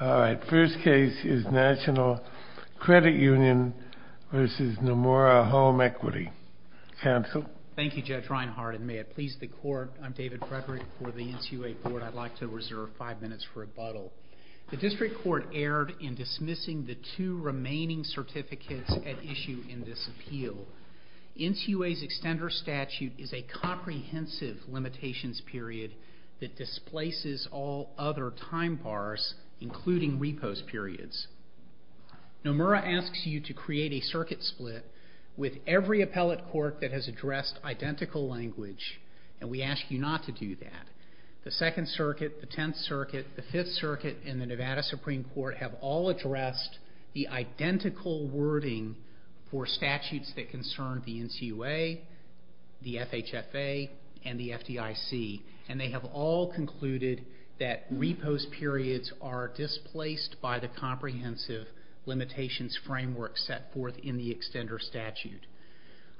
All right, first case is National Credit Union v. Nomura Home Equity. Counsel? Thank you, Judge Reinhardt, and may it please the court, I'm David Frederick for the NCUA Board. I'd like to reserve five minutes for rebuttal. The district court erred in dismissing the two remaining certificates at issue in this appeal. NCUA's extender statute is a comprehensive limitations period that displaces all other time bars, including repose periods. Nomura asks you to create a circuit split with every appellate court that has addressed identical language, and we ask you not to do that. The Second Circuit, the Tenth Circuit, the Fifth Circuit, and the Nevada Supreme Court have all addressed the identical wording for statutes that they have all concluded that repose periods are displaced by the comprehensive limitations framework set forth in the extender statute.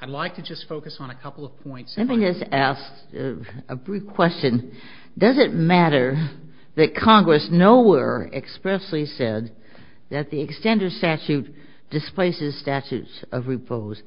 I'd like to just focus on a couple of points. Let me just ask a brief question. Does it matter that Congress nowhere expressly said that the extender statute displaces statutes of repose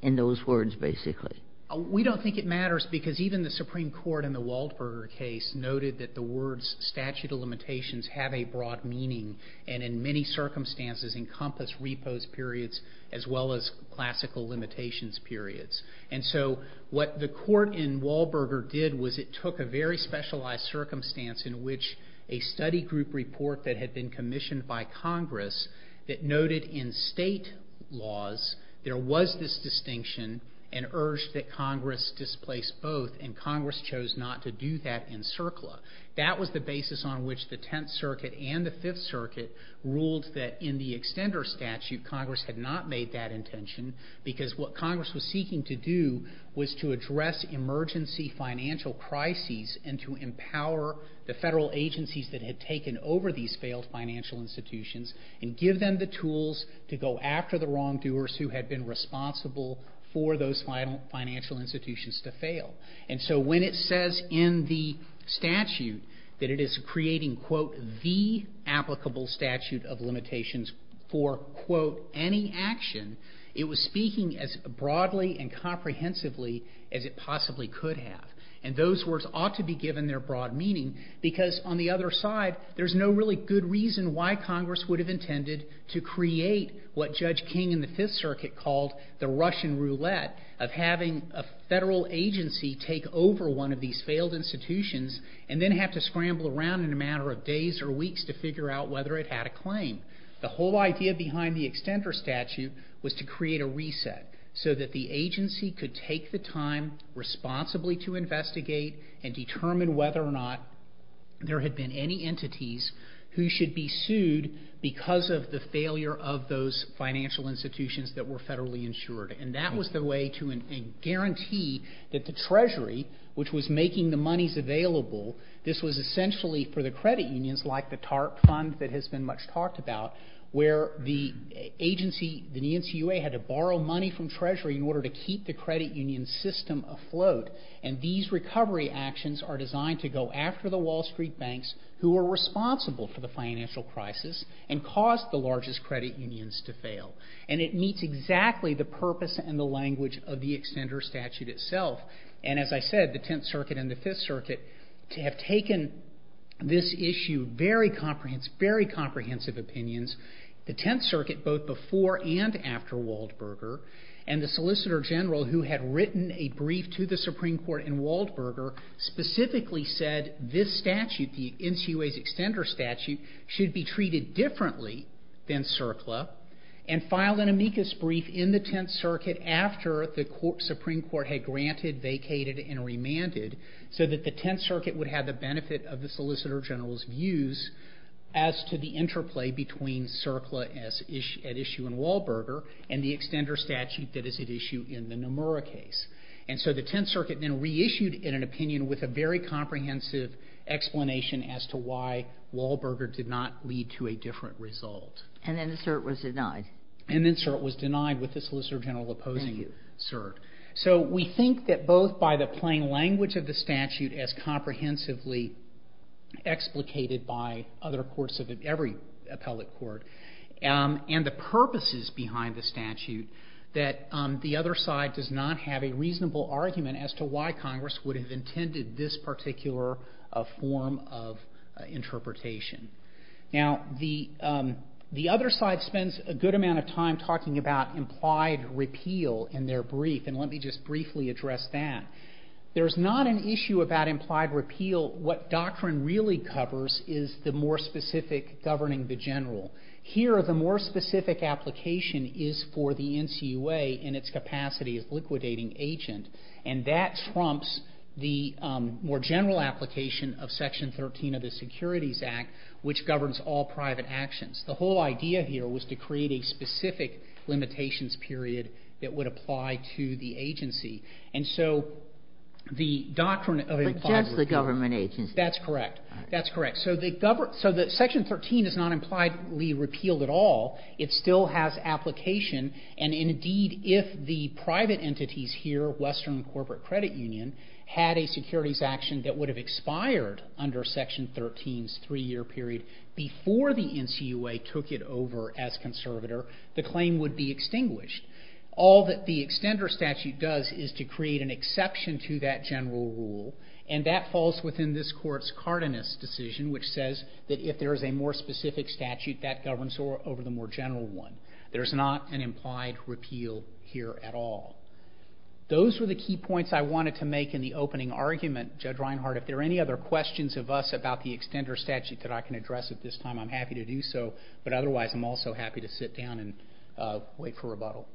in those words, basically? We don't think it matters because even the Supreme Court in the Waldberger case noted that the words statute of limitations have a broad meaning and in many circumstances encompass repose periods as well as classical limitations periods. And so what the court in Waldberger did was it took a very specialized circumstance in which a study group report that had been commissioned by Congress that noted in state laws there was this distinction and urged that Congress displace both and Congress chose not to do that in CERCLA. That was the basis on which the Tenth Circuit and the Fifth Circuit ruled that in the extender statute Congress had not made that intention because what Congress was seeking to do was to address emergency financial crises and to empower the federal agencies that had taken over these failed financial institutions and give them the tools to go after the wrongdoers who had been responsible for those financial institutions to fail. And so when it says in the statute that it is creating, quote, the applicable statute of limitations for, quote, any action, it was speaking as broadly and comprehensively as it possibly could have. And those words ought to be given their broad meaning because on the other side there's no really good reason why Judge King in the Fifth Circuit called the Russian roulette of having a federal agency take over one of these failed institutions and then have to scramble around in a matter of days or weeks to figure out whether it had a claim. The whole idea behind the extender statute was to create a reset so that the agency could take the time responsibly to investigate and determine whether or not there had been any entities who should be sued because of the failure of those financial institutions that were federally insured. And that was the way to a guarantee that the Treasury, which was making the monies available, this was essentially for the credit unions like the TARP fund that has been much talked about where the agency, the NCUA, had to borrow money from Treasury in order to keep the credit union system afloat. And these recovery actions are designed to go after the Wall Street banks who were responsible for the financial crisis and caused the largest credit unions to fail. And it meets exactly the purpose and the language of the extender statute itself. And as I said, the Tenth Circuit and the Fifth Circuit have taken this issue, very comprehensive opinions. The Tenth Circuit, both before and after Waldberger, and the Solicitor General who had written a brief to the Supreme Court in Waldberger, specifically said that this statute, the NCUA's extender statute, should be treated differently than CERCLA and filed an amicus brief in the Tenth Circuit after the Supreme Court had granted, vacated, and remanded so that the Tenth Circuit would have the benefit of the Solicitor General's views as to the interplay between CERCLA at issue in Waldberger and the extender statute that is at issue in the Nomura case. And so the Tenth Circuit then reissued an opinion with a very comprehensive explanation as to why Waldberger did not lead to a different result. And then the cert was denied. And then the cert was denied with the Solicitor General opposing the cert. Thank you. So we think that both by the plain language of the statute as comprehensively explicated by other courts of every appellate court, and the purposes behind the statute, that the other side does not have a reasonable argument as to why this is a particular form of interpretation. Now, the other side spends a good amount of time talking about implied repeal in their brief, and let me just briefly address that. There's not an issue about implied repeal. What doctrine really covers is the more specific governing the general. Here, the more specific application is for the NCUA in its capacity as liquidating agent, and that trumps the more general application of Section 13 of the Securities Act, which governs all private actions. The whole idea here was to create a specific limitations period that would apply to the agency. And so the doctrine of implied repeal of the agency is not implied repealed at all. It still has application. And, indeed, if the private agency here, Western Corporate Credit Union, had a securities action that would have expired under Section 13's three-year period before the NCUA took it over as conservator, the claim would be extinguished. All that the extender statute does is to create an exception to that general rule, and that falls within this Court's Cardenas decision, which says that if there is a more specific statute, that governs over the more general one. There is not an implied repeal here at all. Those were the key points I wanted to make in the opening argument. Judge Reinhart, if there are any other questions of us about the extender statute that I can address at this time, I'm happy to do so. But, otherwise, I'm also happy to sit down and wait for rebuttal.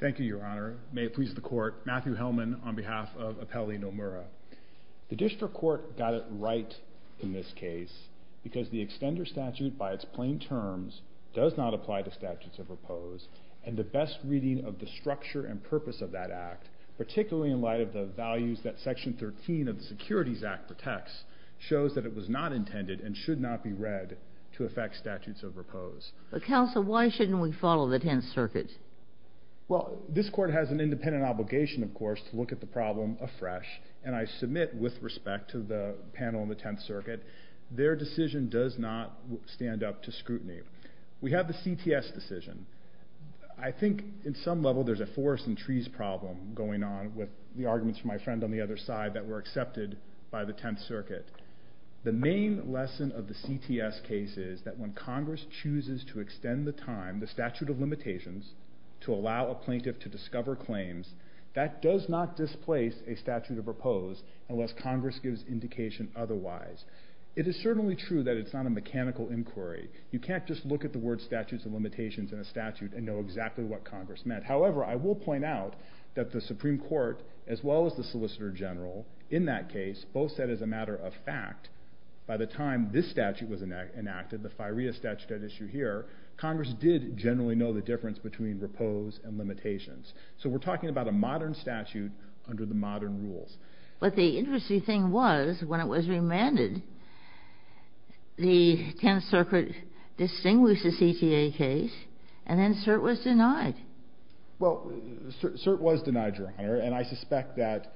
Thank you, Your Honor. May it please the Court. Matthew Hellman, on behalf of Appellee Nomura. The District Court got it right in this case, because the extender statute, by its plain terms, does not apply to statutes of repose, and the best reading of the structure and purpose of that Act, particularly in light of the values that Section 13 of the Securities Act protects, shows that it was not intended and should not be read to affect statutes of repose. Counsel, why shouldn't we follow the Tenth Circuit? Well, this Court has an independent obligation, of course, to look at the problem afresh, and I submit, with respect to the panel in the Tenth Circuit, their decision does not stand up to scrutiny. We have the CTS decision. I think, in some level, there's a forest and trees problem going on, with the arguments from my friend on the other side, that were accepted by the Tenth Circuit. The main lesson of the CTS case is that when Congress chooses to extend the time, the statute of limitations, to allow a plaintiff to discover claims, that does not displace a statute of repose, unless Congress gives indication otherwise. It is certainly true that it's not a mechanical inquiry. You can't just look at the word statutes of limitations in a statute and know exactly what Congress meant. However, I will point out that the Supreme Court, as well as the Solicitor General, in that case, both said as a matter of fact, by the time this statute was enacted, the FIREA statute at issue here, Congress did generally know the difference between repose and limitations. So we're talking about a modern statute, under the modern rules. But the interesting thing was, when it was remanded, the Tenth Circuit distinguished the CTA case, and then CERT was denied. Well, CERT was denied, Your Honor, and I suspect that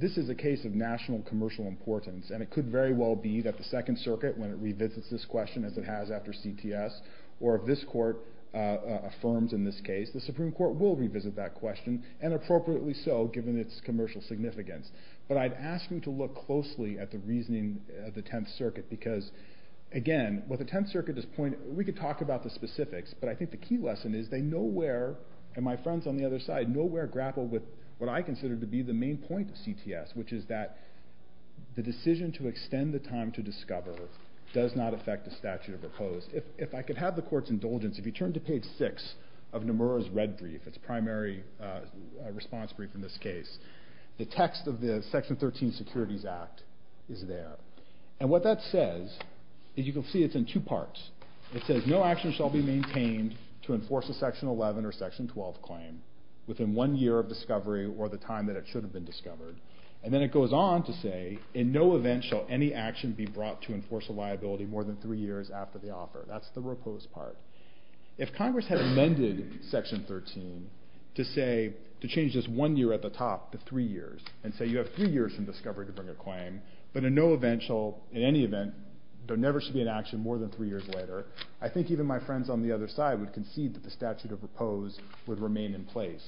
this is a case of national commercial importance, and it could very well be that the Second Circuit, when it revisits this question, as it has after CTS, or if this Court affirms in this case, the Supreme Court will revisit that question, and appropriately so, given its positioning of the Tenth Circuit. Because, again, what the Tenth Circuit is pointing, we could talk about the specifics, but I think the key lesson is they nowhere, and my friends on the other side, nowhere grapple with what I consider to be the main point of CTS, which is that the decision to extend the time to discover does not affect the statute of repose. If I could have the Court's indulgence, if you turn to page 6 of Nomura's red brief, its primary response brief in this case, the text of the Section 13 Securities Act, is there. And what that says, as you can see, it's in two parts. It says, no action shall be maintained to enforce a Section 11 or Section 12 claim within one year of discovery, or the time that it should have been discovered. And then it goes on to say, in no event shall any action be brought to enforce a liability more than three years after the offer. That's the repose part. If Congress had amended Section 13 to say, to change this one year at the discovery to bring a claim, but in no eventual, in any event, there never should be an action more than three years later, I think even my friends on the other side would concede that the statute of repose would remain in place.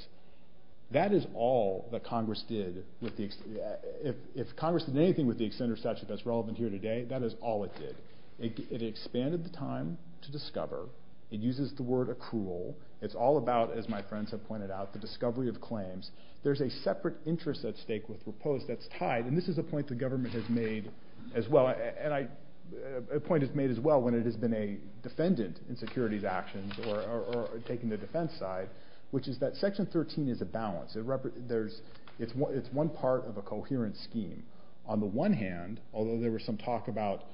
That is all that Congress did. If Congress did anything with the extended statute that's relevant here today, that is all it did. It expanded the time to discover. It uses the word accrual. It's all about, as my friends have pointed out, the discovery of claims. There's a separate interest at stake with repose that's tied, and this is a point the government has made as well, and a point is made as well when it has been a defendant in securities actions or taking the defense side, which is that Section 13 is a balance. It's one part of a coherent scheme. On the one hand, although there was some talk about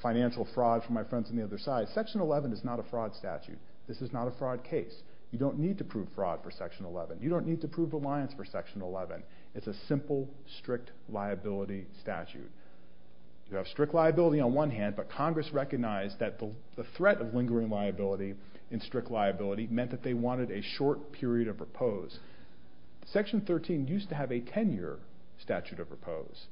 financial fraud from my friends on the other side, Section 11 is not a fraud statute. This is not a fraud case. You don't need to prove fraud for Section 11. You don't need to prove reliance for Section 11. It's a simple, strict liability statute. You have strict liability on one hand, but Congress recognized that the threat of lingering liability in strict liability meant that they wanted a short period of repose. Section 13 used to have a 10-year statute of repose.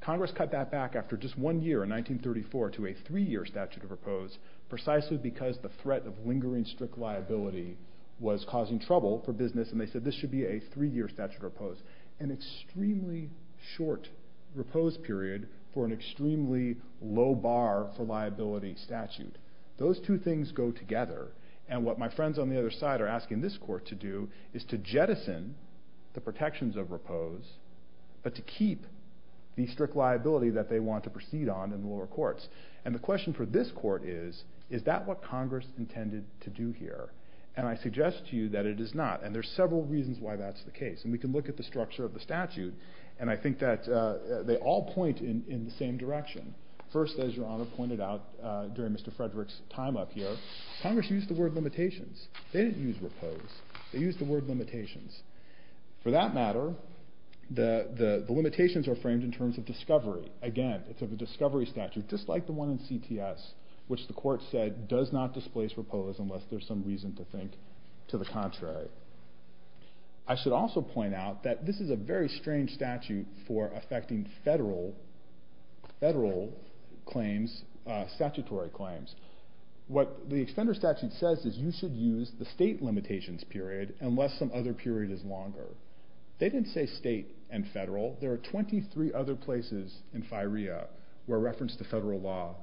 Congress cut that back after just one year, in 1934, to a three-year statute of repose precisely because the threat of lingering strict liability was causing trouble for business, and they said this should be a three-year statute of repose, an extremely short repose period for an extremely low bar for liability statute. Those two things go together, and what my friends on the other side are asking this court to do is to jettison the protections of repose, but to keep the strict liability that they want to proceed on in the lower courts, and the question for this court is, is that what And I suggest to you that it is not, and there's several reasons why that's the case, and we can look at the structure of the statute, and I think that they all point in the same direction. First, as your Honor pointed out during Mr. Frederick's time up here, Congress used the word limitations. They didn't use repose. They used the word limitations. For that matter, the limitations are framed in terms of discovery. Again, it's of a discovery statute, just like the one in CTS, which the court said does not displace repose unless there's some reason to think to the contrary. I should also point out that this is a very strange statute for affecting federal claims, statutory claims. What the extender statute says is you should use the state limitations period unless some other period is longer. They didn't say state and federal. There are 23 other places in FIREA where reference to federal law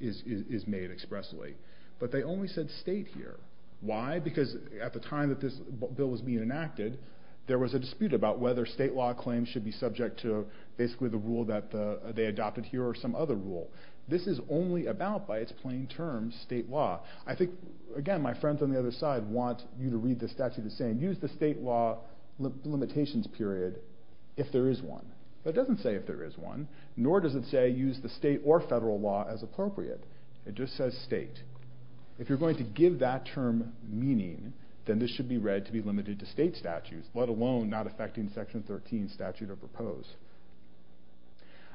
is made expressly, but they only said state here. Why? Because at the time that this bill was being enacted, there was a dispute about whether state law claims should be subject to basically the rule that they adopted here or some other rule. This is only about, by its plain terms, state law. I think, again, my friends on the other side want you to read the statute as saying use the state law limitations period if there is one. That doesn't say if there is one, nor does it say use the If you're going to give that term meaning, then this should be read to be limited to state statutes, let alone not affecting Section 13 statute or repose.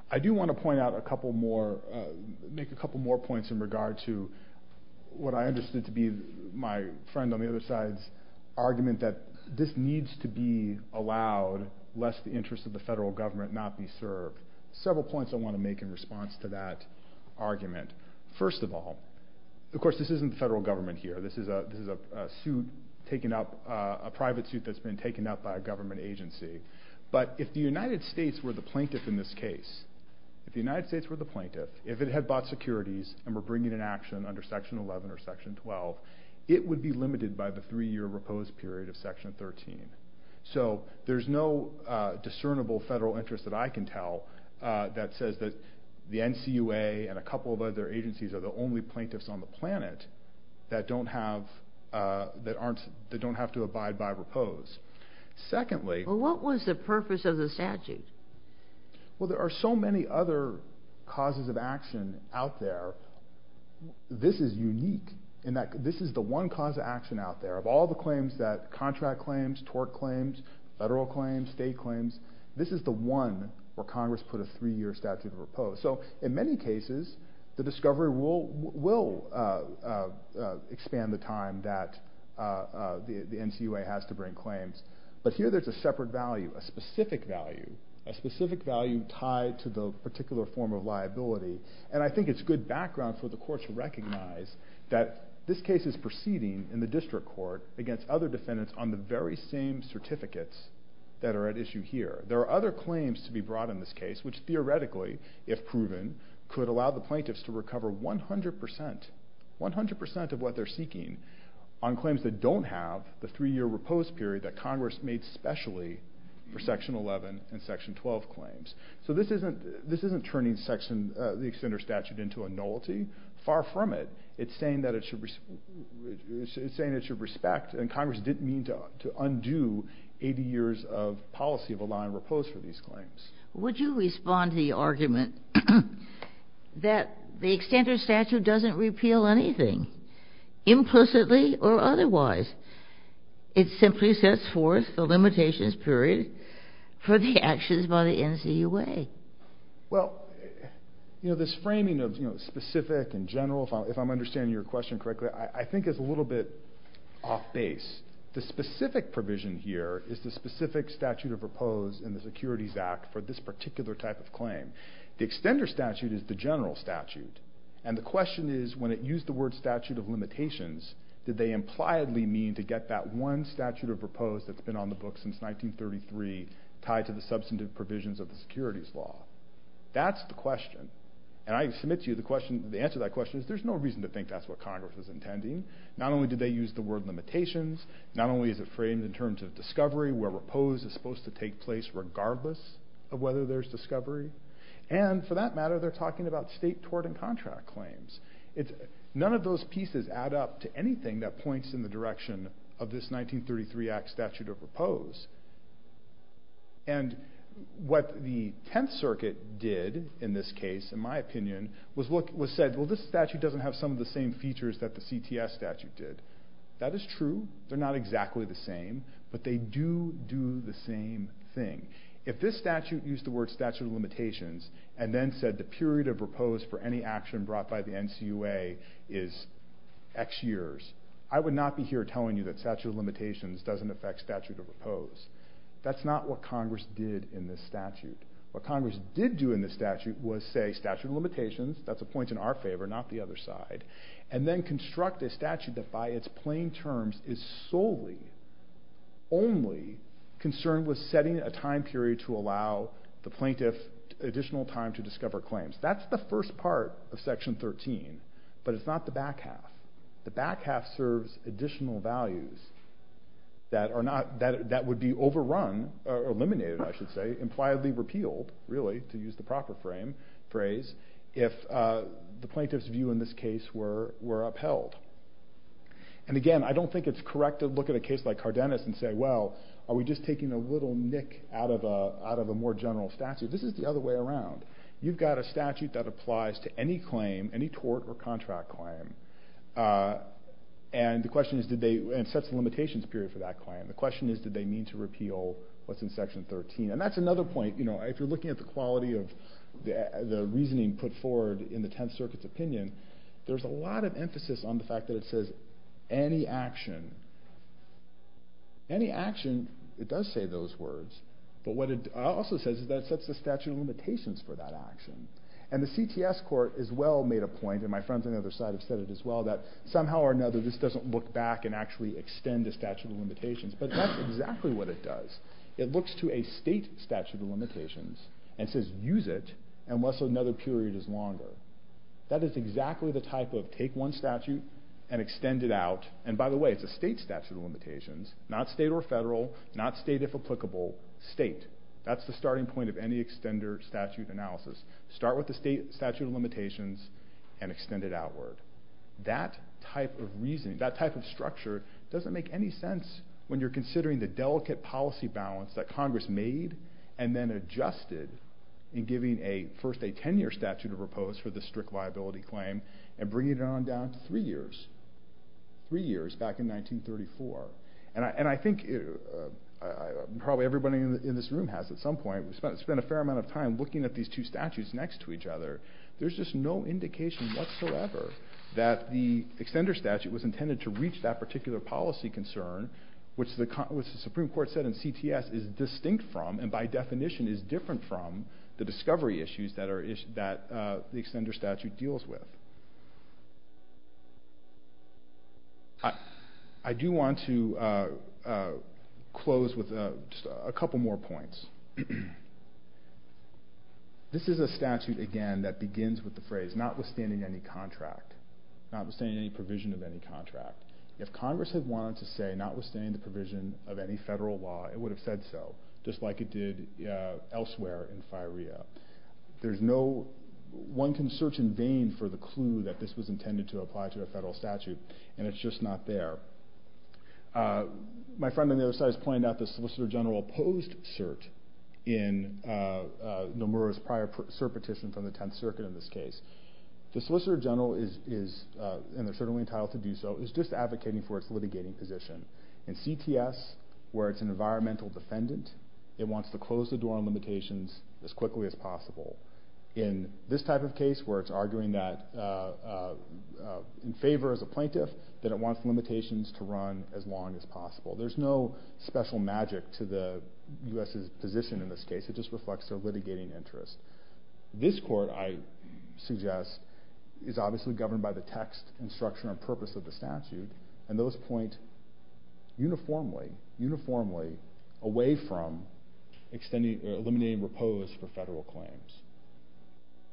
I do want to point out a couple more, make a couple more points in regard to what I understood to be my friend on the other side's argument that this needs to be allowed lest the interest of the federal government not be served. Several points I want to make in response to that argument. First of all, of course, this isn't the federal government here. This is a suit taken up, a private suit that's been taken up by a government agency. But if the United States were the plaintiff in this case, if the United States were the plaintiff, if it had bought securities and were bringing an action under Section 11 or Section 12, it would be limited by the three-year repose period of Section 13. So there's no discernible federal interest that I can tell that says that the NCUA and a couple of other agencies are the only plaintiffs on the planet that don't have to abide by repose. Secondly... Well, what was the purpose of the statute? Well, there are so many other causes of action out there. This is unique in that this is the one cause of action out there. Of all the claims that, contract claims, tort claims, federal claims, state claims, this is the one where Congress put a three-year statute of repose. So in many cases the discovery will expand the time that the NCUA has to bring claims. But here there's a separate value, a specific value, a specific value tied to the particular form of liability. And I think it's good background for the court to recognize that this case is proceeding in the district court against other defendants on the very same certificates that are at issue here. There are other claims to be brought in this case, which theoretically, if proven, could allow the plaintiffs to recover 100 percent, 100 percent of what they're seeking on claims that don't have the three-year repose period that Congress made specially for Section 11 and Section 12 claims. So this isn't turning the extender statute into a nullity. Far from it. It's saying that it should respect, and Congress didn't mean to undo, 80 years of policy of allowing repose for these claims. Would you respond to the argument that the extender statute doesn't repeal anything, implicitly or otherwise? It simply sets forth the limitations period for the actions by the NCUA. Well, you know, this framing of, you know, specific and general, if I'm understanding your question correctly, I think it's a little bit off base. The specific provision here is the specific statute of repose in the Securities Act for this particular type of claim. The extender statute is the general statute, and the question is, when it used the word statute of limitations, did they impliedly mean to get that one statute of repose that's been on the books since 1933 tied to the substantive provisions of the Securities Law? That's the question, and I submit to you the question, the answer to that question is there's no reason to think that's what Congress is intending. Not only did they use the word limitations, not only is it supposed to take place regardless of whether there's discovery, and for that matter they're talking about state tort and contract claims. None of those pieces add up to anything that points in the direction of this 1933 Act statute of repose, and what the Tenth Circuit did in this case, in my opinion, was said, well this statute doesn't have some of the same features that the CTS statute did. That is true. They're not exactly the same, but they do do the same thing. If this statute used the word statute of limitations, and then said the period of repose for any action brought by the NCUA is X years, I would not be here telling you that statute of limitations doesn't affect statute of repose. That's not what Congress did in this statute. What Congress did do in this statute was say statute of limitations, that's a point in our favor, not the other side, and then construct a statute that by its plain terms is solely, only concerned with setting a time period to allow the plaintiff additional time to discover claims. That's the first part of section 13, but it's not the back half. The back half serves additional values that are not, that would be overrun, or eliminated I should say, impliedly repealed, really to use the proper phrase, if the plaintiff's view in this case were upheld. And again, I don't think it's correct to look at a case like Cardenas and say, well, are we just taking a little nick out of a more general statute? This is the other way around. You've got a statute that applies to any claim, any tort or contract claim, and the question is, did they, and it sets the limitations period for that claim. The question is, did they mean to repeal what's in section 13? And that's another point, if you're looking at the quality of the reasoning put forward in the Tenth Circuit's opinion, there's a lot of action. Any action, it does say those words, but what it also says is that it sets the statute of limitations for that action. And the CTS court as well made a point, and my friends on the other side have said it as well, that somehow or another, this doesn't look back and actually extend the statute of limitations, but that's exactly what it does. It looks to a state statute of limitations and says, use it, unless another period is longer. That is exactly the type of take one statute and extend it out, and by the way, it's a state statute of limitations, not state or federal, not state if applicable, state. That's the starting point of any extender statute analysis. Start with the state statute of limitations and extend it outward. That type of reasoning, that type of structure, doesn't make any sense when you're considering the delicate policy balance that Congress made and then adjusted in giving a first a 10-year statute of repose for the strict liability claim and bringing it on down to three years, three years back in 1934. And I think probably everybody in this room has at some point, we spent a fair amount of time looking at these two statutes next to each other. There's just no indication whatsoever that the extender statute was intended to reach that particular policy concern, which the Supreme Court said in CTS is distinct from, and by definition is different from, the discovery issues that the extender statute deals with. I do want to close with a couple more points. This is a statute, again, that begins with the phrase, notwithstanding any contract, notwithstanding any provision of any contract. If Congress had wanted to say notwithstanding the provision of any federal law, it would have said so, just like it did elsewhere in FIREA. There's no, one can search in vain for the clue that this was intended to apply to a federal statute, and it's just not there. My friend on the other side has pointed out the Solicitor General opposed cert in Nomura's prior cert petition from the Tenth Circuit in this case. The Solicitor General is, and they're certainly entitled to do so, is just advocating for its litigating position. In CTS, where it's an environmental defendant, it wants to close the door on limitations as quickly as possible. In this type of case, where it's arguing that, in favor as a plaintiff, that it wants limitations to run as long as possible. There's no special magic to the U.S.'s position in this case. It just reflects their litigating interest. This court, I suggest, is obviously governed by the text and structure and purpose of the statute, and those point uniformly, uniformly away from extending, eliminating repose for federal claims.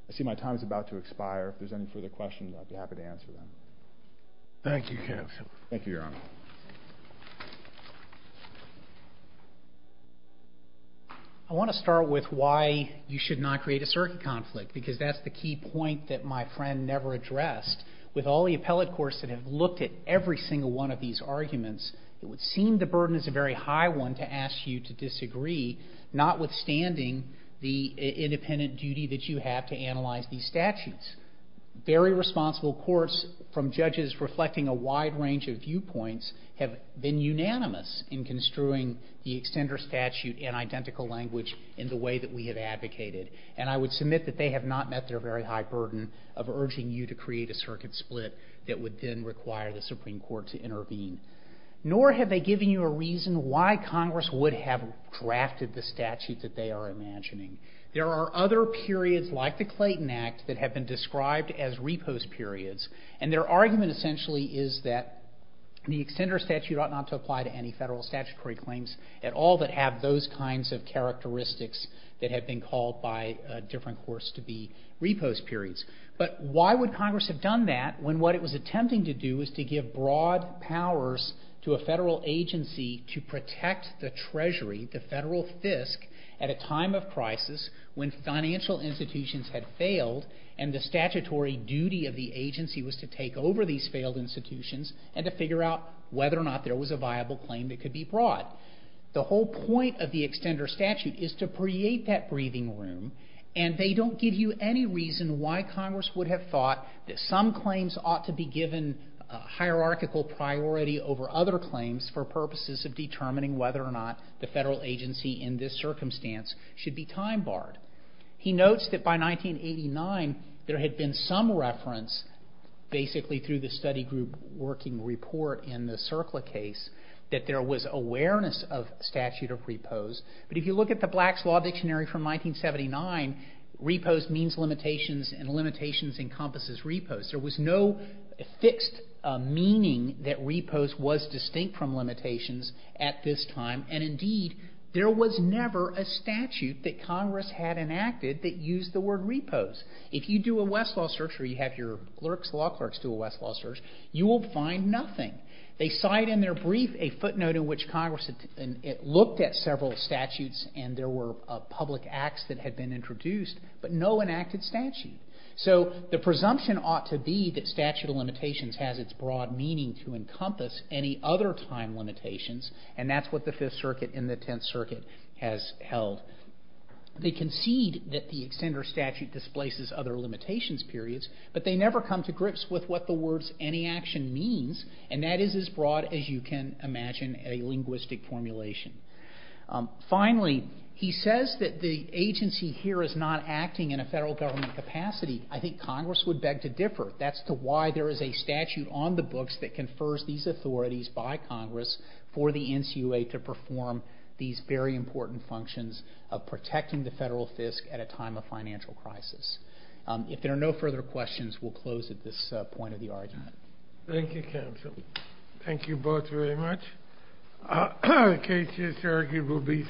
I see my time is about to expire. If there's any further questions, I'd be happy to answer them. Thank you, counsel. Thank you, Your Honor. I want to start with why you should not create a cert conflict, because that's the key point that my friend never addressed. With all the of these arguments, it would seem the burden is a very high one to ask you to disagree, notwithstanding the independent duty that you have to analyze these statutes. Very responsible courts, from judges reflecting a wide range of viewpoints, have been unanimous in construing the extender statute in identical language, in the way that we have advocated. And I would submit that they have not met their very high burden of urging you to create a circuit split that would then require the Supreme Court to intervene. Nor have they given you a reason why Congress would have drafted the statute that they are imagining. There are other periods, like the Clayton Act, that have been described as repose periods, and their argument essentially is that the extender statute ought not to apply to any federal statutory claims at all that have those kinds of characteristics that have been called by different courts to be repose periods. But why would it do that? What it was attempting to do was to give broad powers to a federal agency to protect the treasury, the federal FISC, at a time of crisis when financial institutions had failed and the statutory duty of the agency was to take over these failed institutions and to figure out whether or not there was a viable claim that could be brought. The whole point of the extender statute is to create that breathing room, and they don't give you any reason why Congress would have thought that some claims ought to be given hierarchical priority over other claims for purposes of determining whether or not the federal agency in this circumstance should be time barred. He notes that by 1989 there had been some reference, basically through the study group working report in the CERCLA case, that there was awareness of statute of repose. But if you look at the Black's Law Dictionary from 1979, repose means limitations and encompasses repose. There was no fixed meaning that repose was distinct from limitations at this time, and indeed there was never a statute that Congress had enacted that used the word repose. If you do a Westlaw search or you have your law clerks do a Westlaw search, you will find nothing. They cite in their brief a footnote in which Congress looked at several statutes and there were public acts that had been introduced, but no enacted statute. So the presumption ought to be that statute of limitations has its broad meaning to encompass any other time limitations, and that's what the Fifth Circuit and the Tenth Circuit has held. They concede that the extender statute displaces other limitations periods, but they never come to grips with what the words any action means, and that is as broad as you can imagine a linguistic formulation. Finally, he says that the agency here is not acting in a federal government capacity. I think Congress would beg to differ. That's why there is a statute on the books that confers these authorities by Congress for the NCOA to perform these very important functions of protecting the federal fisc at a time of financial crisis. If there are no further questions, we'll close at this point of case. Yes, sir. He will be